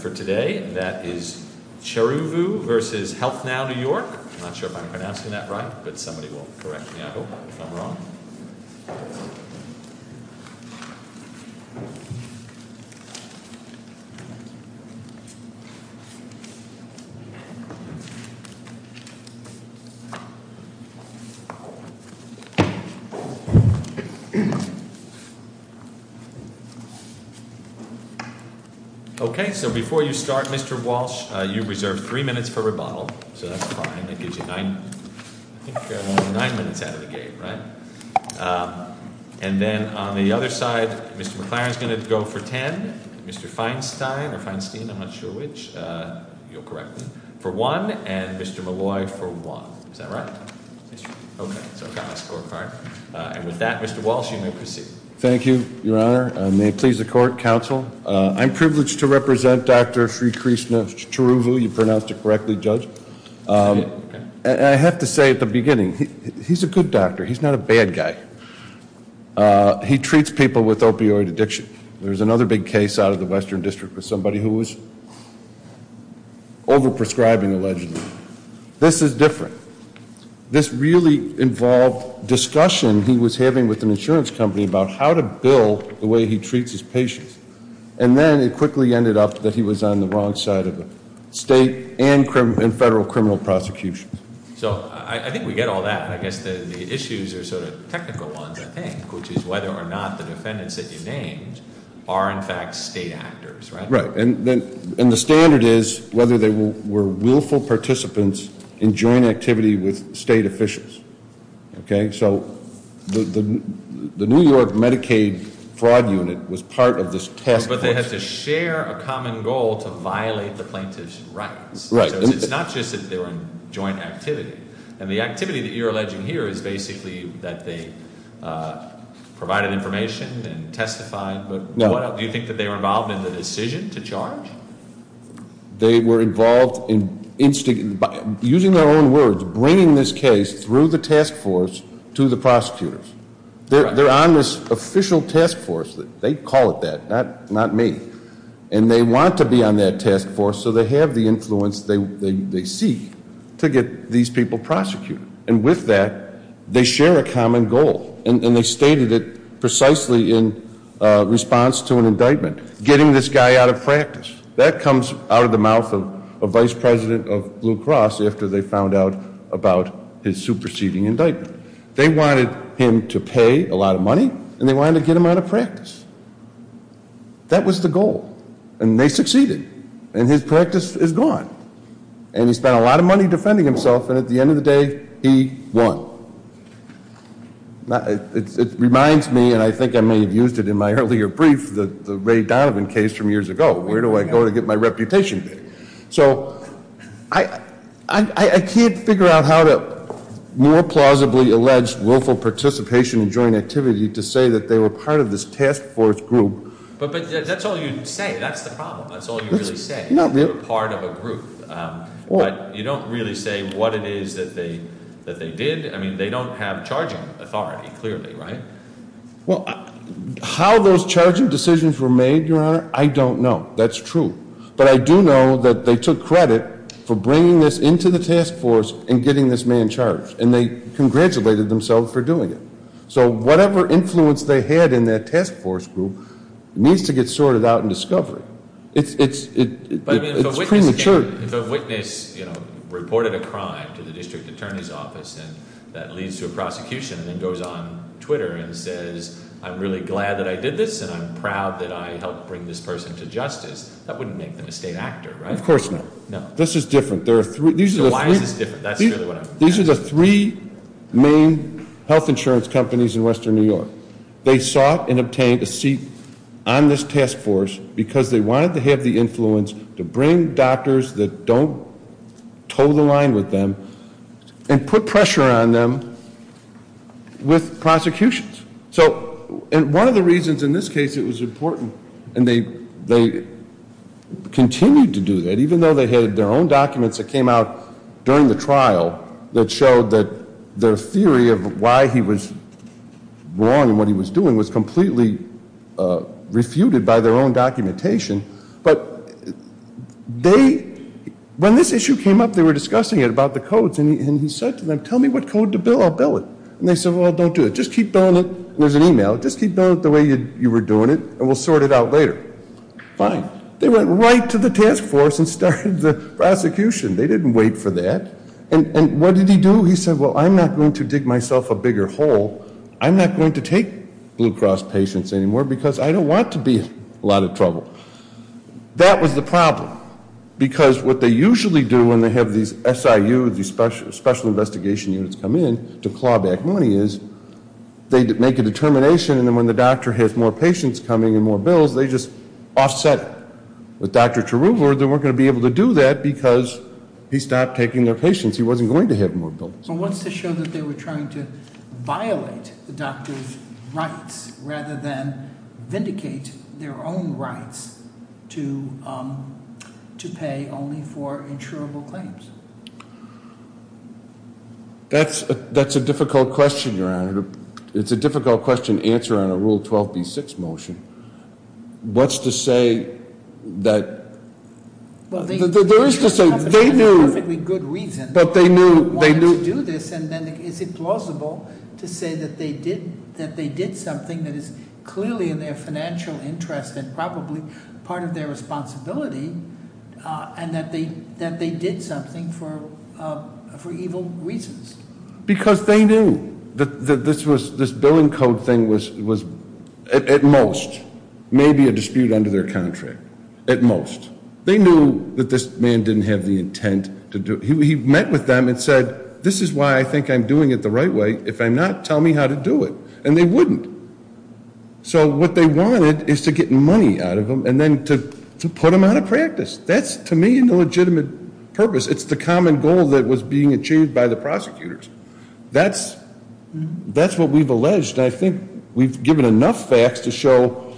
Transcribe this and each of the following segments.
For today that is Cheruvu v. Healthnow New York. I'm not sure if I'm pronouncing that right, but somebody will correct me, I hope, if I'm wrong. Okay, so before you start, Mr. Walsh, you reserve three minutes for rebuttal, so that's fine. That gives you nine minutes out of the game, right? And then on the other side, Mr. McLaren is going to go for ten, Mr. Feinstein, or Feinstein, I'm not sure which, you'll correct me, for one, and Mr. Molloy for one. Is that right? Okay, so I've got my score card. And with that, Mr. Walsh, you may proceed. Thank you, Your Honor. May it please the Court, Counsel. I'm privileged to represent Dr. Sri Krishna Cheruvu. You pronounced it correctly, Judge. And I have to say at the beginning, he's a good doctor. He's not a bad guy. He treats people with opioid addiction. There was another big case out of the Western District with somebody who was over-prescribing, allegedly. This is different. This really involved discussion he was having with an insurance company about how to bill the way he treats his patients. And then it quickly ended up that he was on the wrong side of the state and federal criminal prosecution. So I think we get all that, but I guess the issues are sort of technical ones, I think, which is whether or not the defendants that you named are in fact state actors, right? And the standard is whether they were willful participants in joint activity with state officials. So the New York Medicaid Fraud Unit was part of this task force. But they had to share a common goal to violate the plaintiff's rights. So it's not just that they were in joint activity. And the activity that you're alleging here is basically that they provided information and testified. Do you think that they were involved in the decision to charge? They were involved in, using their own words, bringing this case through the task force to the prosecutors. They're on this official task force. They call it that, not me. And they want to be on that task force so they have the influence they seek to get these people prosecuted. And with that, they share a common goal. And they stated it precisely in response to an indictment, getting this guy out of practice. That comes out of the mouth of a vice president of Blue Cross after they found out about his superseding indictment. They wanted him to pay a lot of money, and they wanted to get him out of practice. That was the goal. And they succeeded. And his practice is gone. And he spent a lot of money defending himself, and at the end of the day, he won. It reminds me, and I think I may have used it in my earlier brief, the Ray Donovan case from years ago. Where do I go to get my reputation? So I can't figure out how to more plausibly allege willful participation in joint activity to say that they were part of this task force group. But that's all you say. That's the problem. That's all you really say. They were part of a group. But you don't really say what it is that they did. I mean, they don't have charging authority, clearly, right? Well, how those charging decisions were made, Your Honor, I don't know. That's true. But I do know that they took credit for bringing this into the task force and getting this man charged. And they congratulated themselves for doing it. So whatever influence they had in that task force group needs to get sorted out in discovery. It's premature. If a witness reported a crime to the district attorney's office and that leads to a prosecution and then goes on Twitter and says, I'm really glad that I did this and I'm proud that I helped bring this person to justice. That wouldn't make them a state actor, right? Of course not. No. This is different. So why is this different? These are the three main health insurance companies in western New York. They sought and obtained a seat on this task force because they wanted to have the influence to bring doctors that don't toe the line with them and put pressure on them with prosecutions. So one of the reasons in this case it was important, and they continued to do that, even though they had their own documents that came out during the trial that showed that the theory of why he was wrong and what he was doing was completely refuted by their own documentation. But when this issue came up, they were discussing it about the codes. And he said to them, tell me what code to bill, I'll bill it. And they said, well, don't do it. Just keep billing it. There's an email. Just keep billing it the way you were doing it, and we'll sort it out later. Fine. They went right to the task force and started the prosecution. They didn't wait for that. And what did he do? He said, well, I'm not going to dig myself a bigger hole. I'm not going to take Blue Cross patients anymore because I don't want to be a lot of trouble. That was the problem because what they usually do when they have these SIU, these special investigation units come in to claw back money is they make a determination, and then when the doctor has more patients coming and more bills, they just offset it. With Dr. Cheruver, they weren't going to be able to do that because he stopped taking their patients. He wasn't going to have more bills. Well, what's to show that they were trying to violate the doctor's rights rather than vindicate their own rights to pay only for insurable claims? That's a difficult question, Your Honor. It's a difficult question to answer on a Rule 12b-6 motion. What's to say that there is to say they knew. For a perfectly good reason. But they knew. They wanted to do this, and then is it plausible to say that they did something that is clearly in their financial interest and probably part of their responsibility and that they did something for evil reasons? Because they knew that this billing code thing was, at most, maybe a dispute under their contract. At most. They knew that this man didn't have the intent to do it. He met with them and said, this is why I think I'm doing it the right way. If I'm not, tell me how to do it. And they wouldn't. So what they wanted is to get money out of them and then to put them out of practice. That's, to me, an illegitimate purpose. It's the common goal that was being achieved by the prosecutors. That's what we've alleged. And I think we've given enough facts to show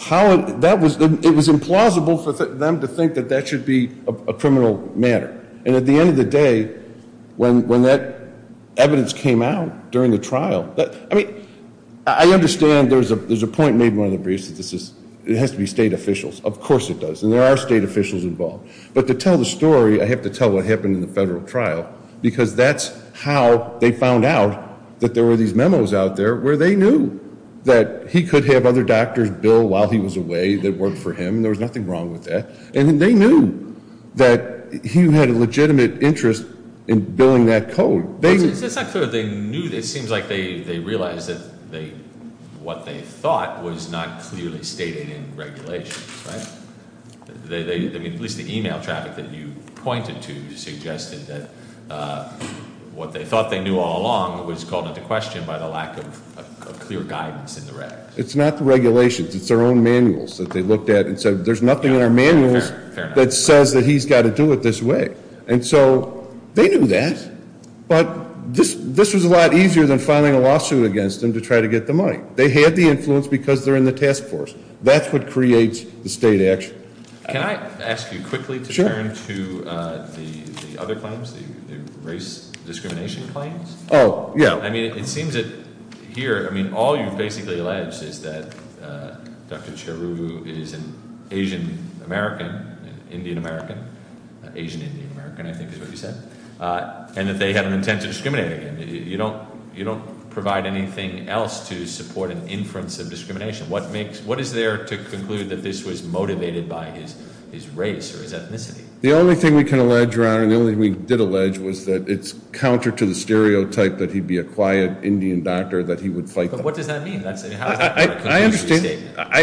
how it was implausible for them to think that that should be a criminal matter. And at the end of the day, when that evidence came out during the trial, I mean, I understand there's a point made in one of the briefs. It has to be state officials. Of course it does. And there are state officials involved. But to tell the story, I have to tell what happened in the federal trial. Because that's how they found out that there were these memos out there where they knew that he could have other doctors bill while he was away that worked for him. And there was nothing wrong with that. And they knew that he had a legitimate interest in billing that code. It's not clear. It seems like they realized that what they thought was not clearly stated in regulation. At least the email traffic that you pointed to suggested that what they thought they knew all along was called into question by the lack of clear guidance in the regs. It's not the regulations. It's their own manuals that they looked at and said there's nothing in our manuals that says that he's got to do it this way. And so they knew that. But this was a lot easier than filing a lawsuit against them to try to get the money. They had the influence because they're in the task force. That's what creates the state action. Can I ask you quickly to turn to the other claims, the race discrimination claims? Oh, yeah. I mean, it seems that here, I mean, all you've basically alleged is that Dr. Cheru is an Asian-American, Indian-American, Asian-Indian-American, I think is what you said, and that they had an intent to discriminate against him. You don't provide anything else to support an inference of discrimination. What is there to conclude that this was motivated by his race or his ethnicity? The only thing we can allege, Your Honor, and the only thing we did allege was that it's counter to the stereotype that he'd be a quiet Indian doctor, that he would fight them. But what does that mean? I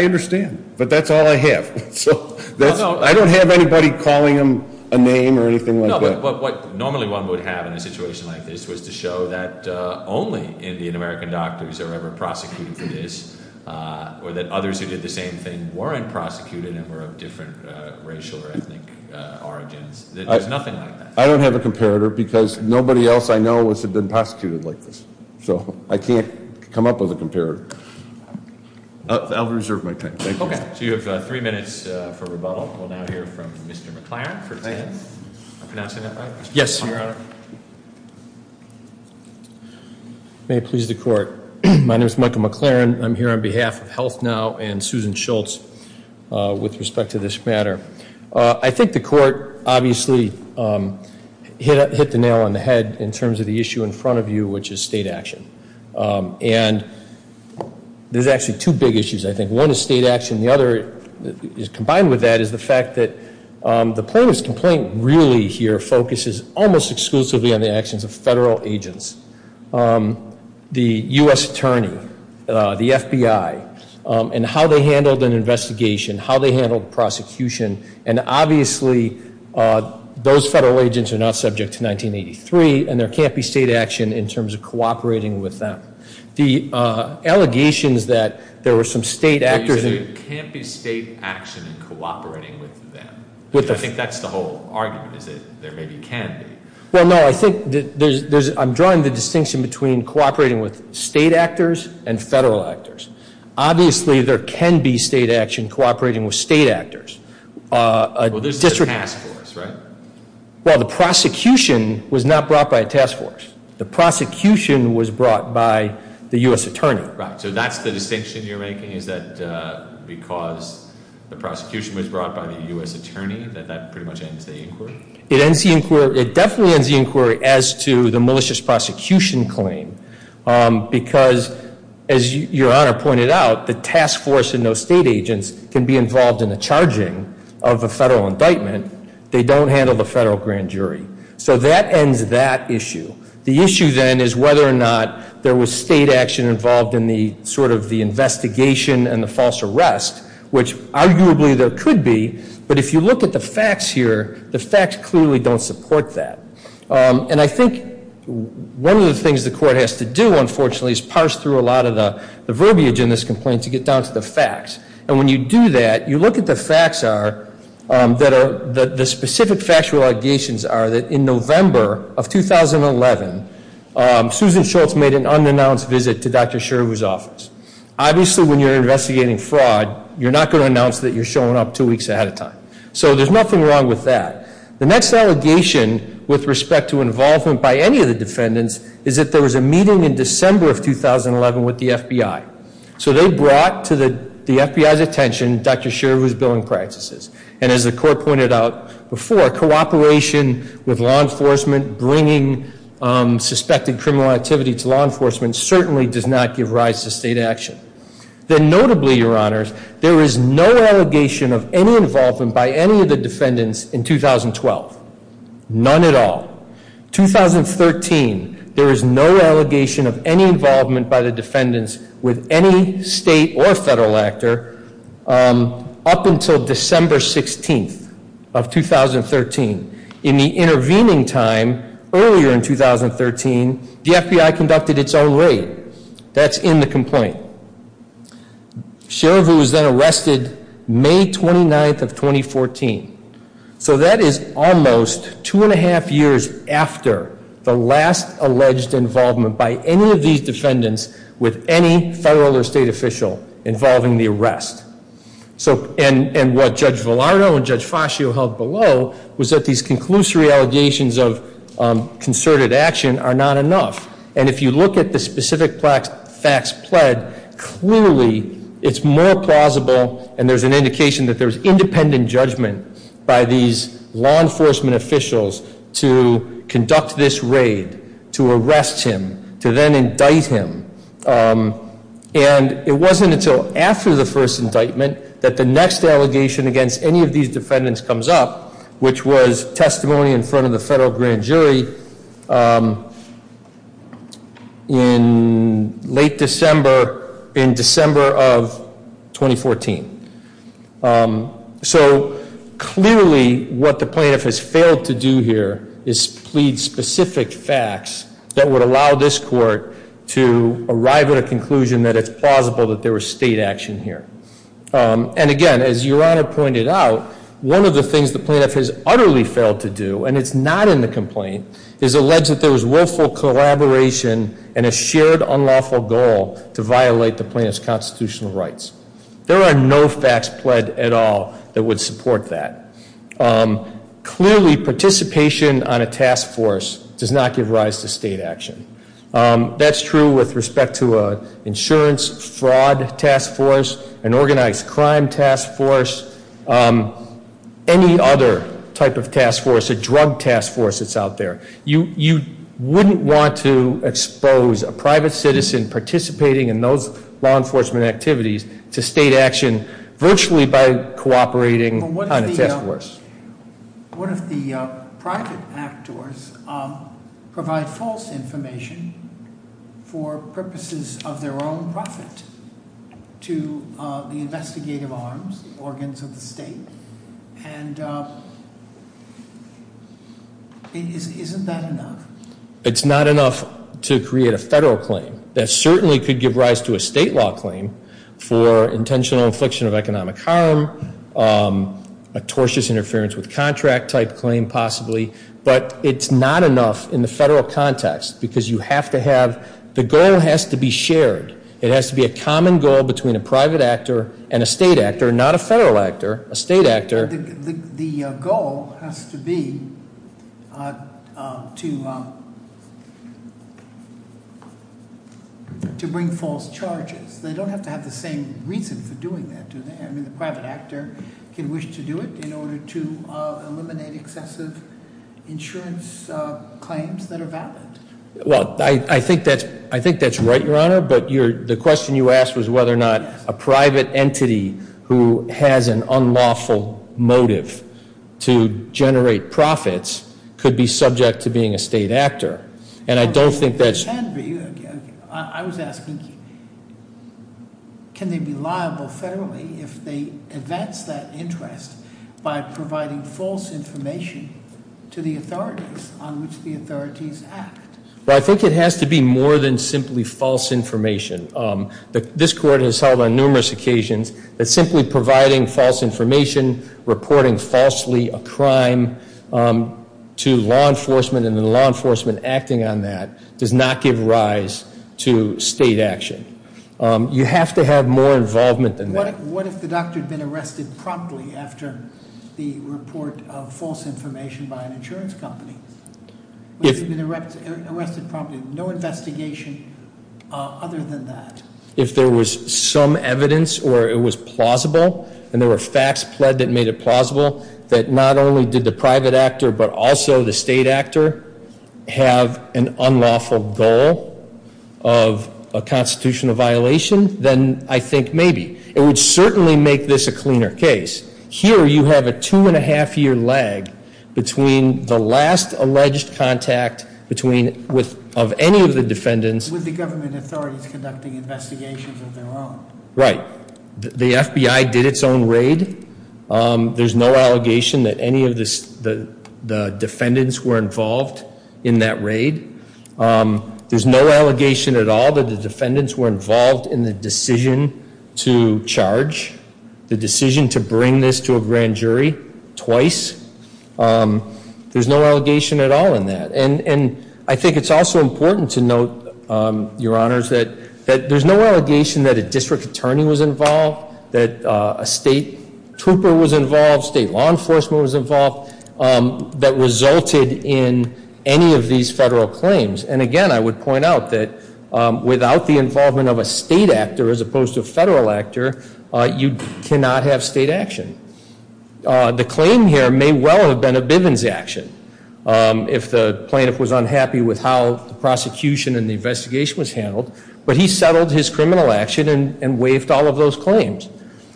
understand. But that's all I have. I don't have anybody calling him a name or anything like that. No, but what normally one would have in a situation like this was to show that only Indian-American doctors are ever prosecuted for this or that others who did the same thing weren't prosecuted and were of different racial or ethnic origins. There's nothing like that. I don't have a comparator because nobody else I know has been prosecuted like this. So I can't come up with a comparator. I'll reserve my time. Thank you. Okay. So you have three minutes for rebuttal. We'll now hear from Mr. McLaren for his statement. I'm pronouncing that right? Yes, Your Honor. May it please the court. My name is Michael McLaren. I'm here on behalf of HealthNow and Susan Schultz with respect to this matter. I think the court obviously hit the nail on the head in terms of the issue in front of you, which is state action. And there's actually two big issues, I think. One is state action. The other, combined with that, is the fact that the plaintiff's complaint really here focuses almost exclusively on the actions of federal agents. The U.S. attorney, the FBI, and how they handled an investigation, how they handled prosecution. And obviously, those federal agents are not subject to 1983, and there can't be state action in terms of cooperating with them. The allegations that there were some state actors. You're saying there can't be state action in cooperating with them? I think that's the whole argument, is that there maybe can be. Well, no. I'm drawing the distinction between cooperating with state actors and federal actors. Obviously, there can be state action cooperating with state actors. Well, there's a task force, right? Well, the prosecution was not brought by a task force. The prosecution was brought by the U.S. attorney. Right. So that's the distinction you're making, is that because the prosecution was brought by the U.S. attorney, that that pretty much ends the inquiry? It ends the inquiry. It definitely ends the inquiry as to the malicious prosecution claim because, as Your Honor pointed out, the task force and those state agents can be involved in the charging of a federal indictment. They don't handle the federal grand jury. So that ends that issue. The issue then is whether or not there was state action involved in the sort of the investigation and the false arrest, which arguably there could be. But if you look at the facts here, the facts clearly don't support that. And I think one of the things the court has to do, unfortunately, is parse through a lot of the verbiage in this complaint to get down to the facts. And when you do that, you look at the facts that are, the specific factual allegations are that in November of 2011, Susan Schultz made an unannounced visit to Dr. Sherwood's office. Obviously, when you're investigating fraud, you're not going to announce that you're showing up two weeks ahead of time. So there's nothing wrong with that. The next allegation with respect to involvement by any of the defendants is that there was a meeting in December of 2011 with the FBI. So they brought to the FBI's attention Dr. Sherwood's billing practices. And as the court pointed out before, cooperation with law enforcement, bringing suspected criminal activity to law enforcement certainly does not give rise to state action. Then notably, Your Honors, there is no allegation of any involvement by any of the defendants in 2012. None at all. 2013, there is no allegation of any involvement by the defendants with any state or federal actor up until December 16th of 2013. In the intervening time, earlier in 2013, the FBI conducted its own raid. That's in the complaint. Sherwood was then arrested May 29th of 2014. So that is almost two and a half years after the last alleged involvement by any of these defendants with any federal or state official involving the arrest. And what Judge Villarno and Judge Fascio held below was that these conclusory allegations of concerted action are not enough. And if you look at the specific facts pled, clearly it's more plausible, and there's an indication that there's independent judgment by these law enforcement officials to conduct this raid, to arrest him, to then indict him. And it wasn't until after the first indictment that the next allegation against any of these defendants comes up, which was testimony in front of the federal grand jury in late December, in December of 2014. So clearly what the plaintiff has failed to do here is plead specific facts that would allow this court to arrive at a conclusion that it's plausible that there was state action here. And again, as Your Honor pointed out, one of the things the plaintiff has utterly failed to do, and it's not in the complaint, is allege that there was willful collaboration and a shared unlawful goal to violate the plaintiff's constitutional rights. There are no facts pled at all that would support that. Clearly, participation on a task force does not give rise to state action. That's true with respect to an insurance fraud task force, an organized crime task force, any other type of task force, a drug task force that's out there. You wouldn't want to expose a private citizen participating in those law enforcement activities to state action virtually by cooperating on a task force. What if the private actors provide false information for purposes of their own profit to the investigative arms, organs of the state? And isn't that enough? It's not enough to create a federal claim. That certainly could give rise to a state law claim for intentional affliction of economic harm, a tortious interference with contract type claim possibly. But it's not enough in the federal context because you have to have, the goal has to be shared. It has to be a common goal between a private actor and a state actor, not a federal actor, a state actor. The goal has to be to bring false charges. They don't have to have the same reason for doing that, do they? I mean, the private actor can wish to do it in order to eliminate excessive insurance claims that are valid. Well, I think that's right, Your Honor. But the question you asked was whether or not a private entity who has an unlawful motive to generate profits could be subject to being a state actor. And I don't think that's- Mr. Sandby, I was asking, can they be liable federally if they advance that interest by providing false information to the authorities on which the authorities act? Well, I think it has to be more than simply false information. This court has held on numerous occasions that simply providing false information, reporting falsely a crime to law enforcement, and the law enforcement acting on that does not give rise to state action. You have to have more involvement than that. What if the doctor had been arrested promptly after the report of false information by an insurance company? If- If he'd been arrested promptly, no investigation other than that? If there was some evidence or it was plausible, and there were facts pled that made it plausible, that not only did the private actor, but also the state actor have an unlawful goal of a constitutional violation, then I think maybe. It would certainly make this a cleaner case. Here you have a two and a half year lag between the last alleged contact between, of any of the defendants. With the government authorities conducting investigations of their own. Right. The FBI did its own raid. There's no allegation that any of the defendants were involved in that raid. There's no allegation at all that the defendants were involved in the decision to charge. The decision to bring this to a grand jury twice. There's no allegation at all in that. And I think it's also important to note, your honors, that there's no allegation that a district attorney was involved. That a state trooper was involved, state law enforcement was involved. That resulted in any of these federal claims. And again, I would point out that without the involvement of a state actor as opposed to a federal actor, you cannot have state action. The claim here may well have been a Bivens action. If the plaintiff was unhappy with how the prosecution and the investigation was handled. But he settled his criminal action and waived all of those claims.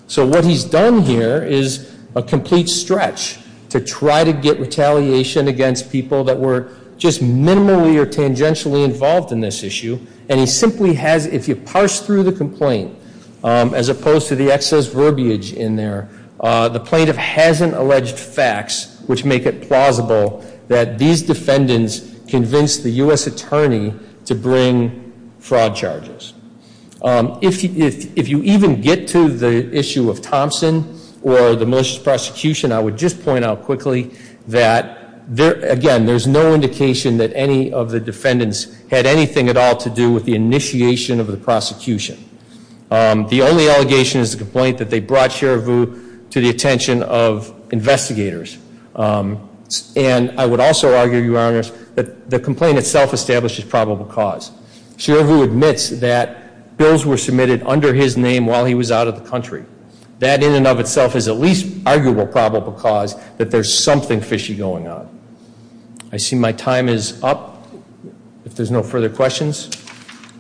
So what he's done here is a complete stretch to try to get retaliation against people that were just minimally or tangentially involved in this issue. And he simply has, if you parse through the complaint, as opposed to the excess verbiage in there, the plaintiff hasn't alleged facts which make it plausible that these defendants convinced the US attorney to bring fraud charges. If you even get to the issue of Thompson or the most prosecution, I would just point out quickly that, again, there's no indication that any of the defendants had anything at all to do with the initiation of the prosecution. The only allegation is the complaint that they brought Cherivu to the attention of investigators. And I would also argue, Your Honor, that the complaint itself establishes probable cause. Cherivu admits that bills were submitted under his name while he was out of the country. That in and of itself is at least arguable probable cause that there's something fishy going on. I see my time is up, if there's no further questions.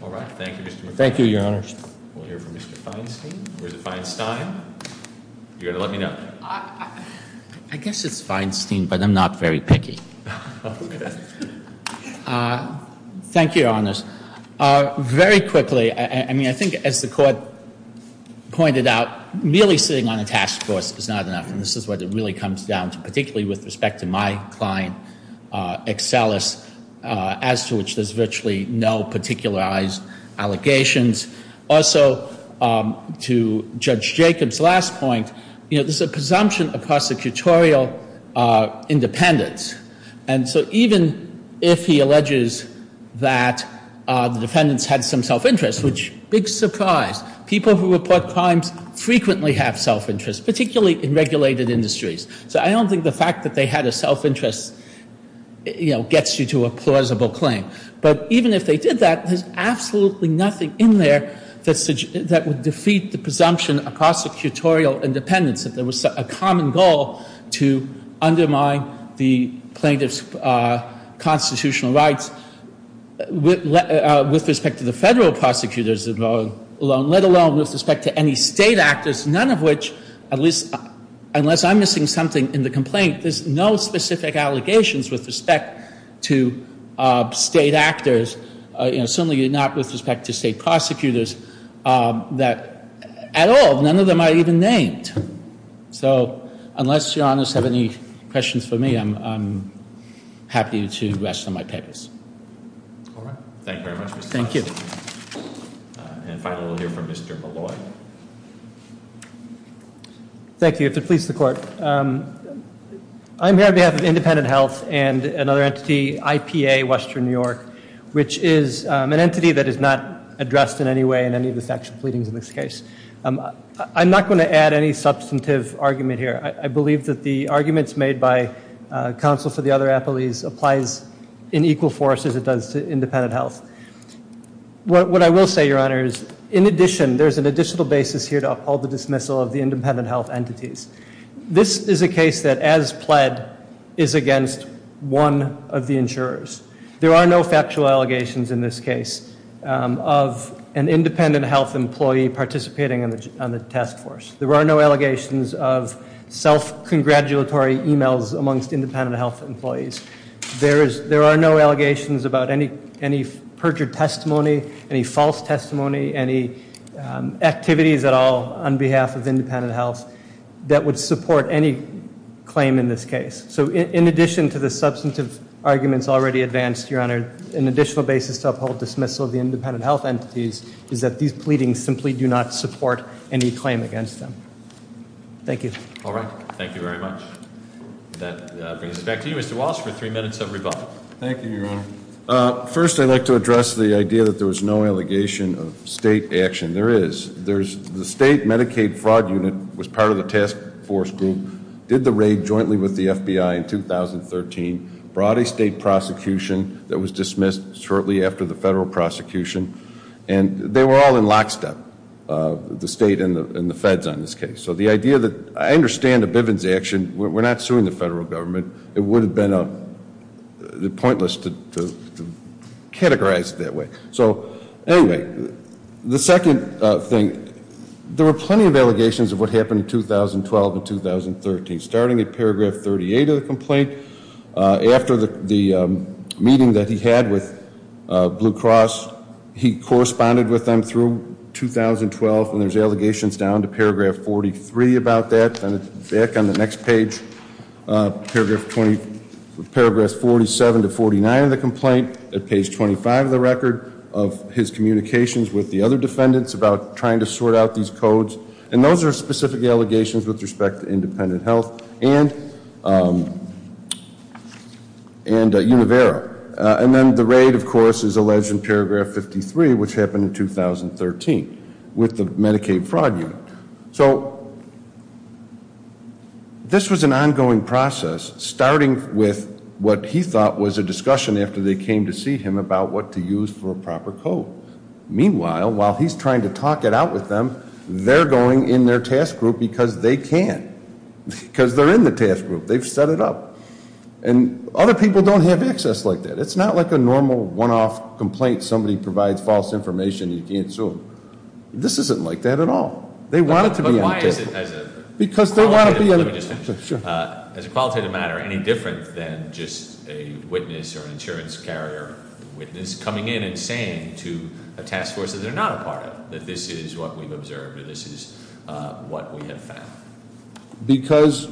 All right, thank you, Mr. McFarland. Thank you, Your Honor. We'll hear from Mr. Feinstein. Where's Feinstein? You're going to let me know. I guess it's Feinstein, but I'm not very picky. Thank you, Your Honors. Very quickly, I mean, I think as the court pointed out, merely sitting on a task force is not enough. And this is where it really comes down to, particularly with respect to my client, Excellus, as to which there's virtually no particularized allegations. Also, to Judge Jacobs' last point, there's a presumption of prosecutorial independence. And so even if he alleges that the defendants had some self-interest, which big surprise, people who report crimes frequently have self-interest, particularly in regulated industries. So I don't think the fact that they had a self-interest gets you to a plausible claim. But even if they did that, there's absolutely nothing in there that would defeat the presumption of prosecutorial independence. If there was a common goal to undermine the plaintiff's constitutional rights with respect to the federal prosecutors alone, let alone with respect to any state actors, none of which, unless I'm missing something in the complaint, there's no specific allegations with respect to state actors, certainly not with respect to state prosecutors, that at all, none of them are even named. So, unless your honors have any questions for me, I'm happy to rest on my papers. All right, thank you very much, Mr. Johnson. Thank you. And finally, we'll hear from Mr. Malloy. Thank you, if it pleases the court. I'm here on behalf of Independent Health and another entity, IPA Western New York, which is an entity that is not addressed in any way in any of the factual pleadings in this case. I'm not going to add any substantive argument here. I believe that the arguments made by counsel for the other appellees applies in equal force as it does to Independent Health. What I will say, your honors, in addition, there's an additional basis here to uphold the dismissal of the Independent Health entities. This is a case that, as pled, is against one of the insurers. There are no factual allegations in this case of an Independent Health employee participating on the task force. There are no allegations of self-congratulatory emails amongst Independent Health employees. There are no allegations about any perjured testimony, any false testimony, any activities at all on behalf of Independent Health that would support any claim in this case. So in addition to the substantive arguments already advanced, your honor, an additional basis to uphold dismissal of the Independent Health entities is that these pleadings simply do not support any claim against them. Thank you. All right. Thank you very much. That brings us back to you, Mr. Walsh, for three minutes of rebuttal. Thank you, your honor. First, I'd like to address the idea that there was no allegation of state action. There is. The state Medicaid fraud unit was part of the task force group, did the raid jointly with the FBI in 2013, brought a state prosecution that was dismissed shortly after the federal prosecution. And they were all in lockstep, the state and the feds on this case. So the idea that, I understand the Bivens action, we're not suing the federal government. It would have been pointless to categorize it that way. So anyway, the second thing, there were plenty of allegations of what happened in 2012 and 2013. Starting at paragraph 38 of the complaint, after the meeting that he had with Blue Cross, he corresponded with them through 2012, and there's allegations down to paragraph 43 about that. Back on the next page, paragraph 47 to 49 of the complaint, at page 25 of the record of his communications with the other defendants about trying to sort out these codes. And those are specific allegations with respect to independent health and Univero. And then the raid, of course, is alleged in paragraph 53, which happened in 2013 with the Medicaid fraud unit. So, this was an ongoing process, starting with what he thought was a discussion after they came to see him about what to use for a proper code. Meanwhile, while he's trying to talk it out with them, they're going in their task group because they can, because they're in the task group. They've set it up. And other people don't have access like that. It's not like a normal one-off complaint, somebody provides false information, you can't sue them. This isn't like that at all. But why is it, as a qualitative matter, any different than just a witness or an insurance carrier witness coming in and saying to a task force that they're not a part of. That this is what we've observed, or this is what we have found. Because,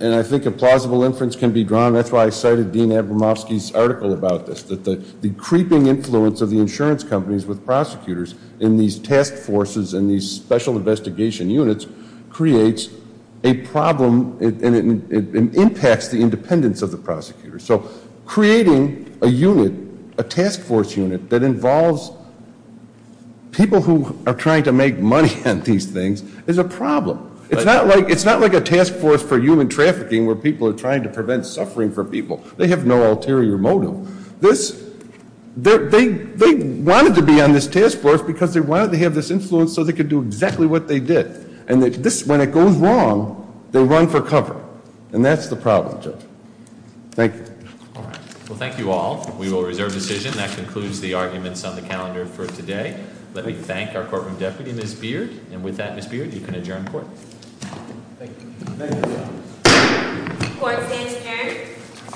and I think a plausible inference can be drawn, that's why I cited Dean Abramofsky's article about this. That the creeping influence of the insurance companies with prosecutors in these task forces and these special investigation units creates a problem and it impacts the independence of the prosecutor. So, creating a unit, a task force unit that involves people who are trying to make money on these things is a problem. It's not like a task force for human trafficking where people are trying to prevent suffering for people. They have no ulterior motive. They wanted to be on this task force because they wanted to have this influence so they could do exactly what they did. And when it goes wrong, they run for cover. And that's the problem, Judge. Thank you. Well, thank you all. We will reserve decision. That concludes the arguments on the calendar for today. Let me thank our courtroom deputy, Ms. Beard. And with that, Ms. Beard, you can adjourn court. Thank you. Thank you. Court stands adjourned.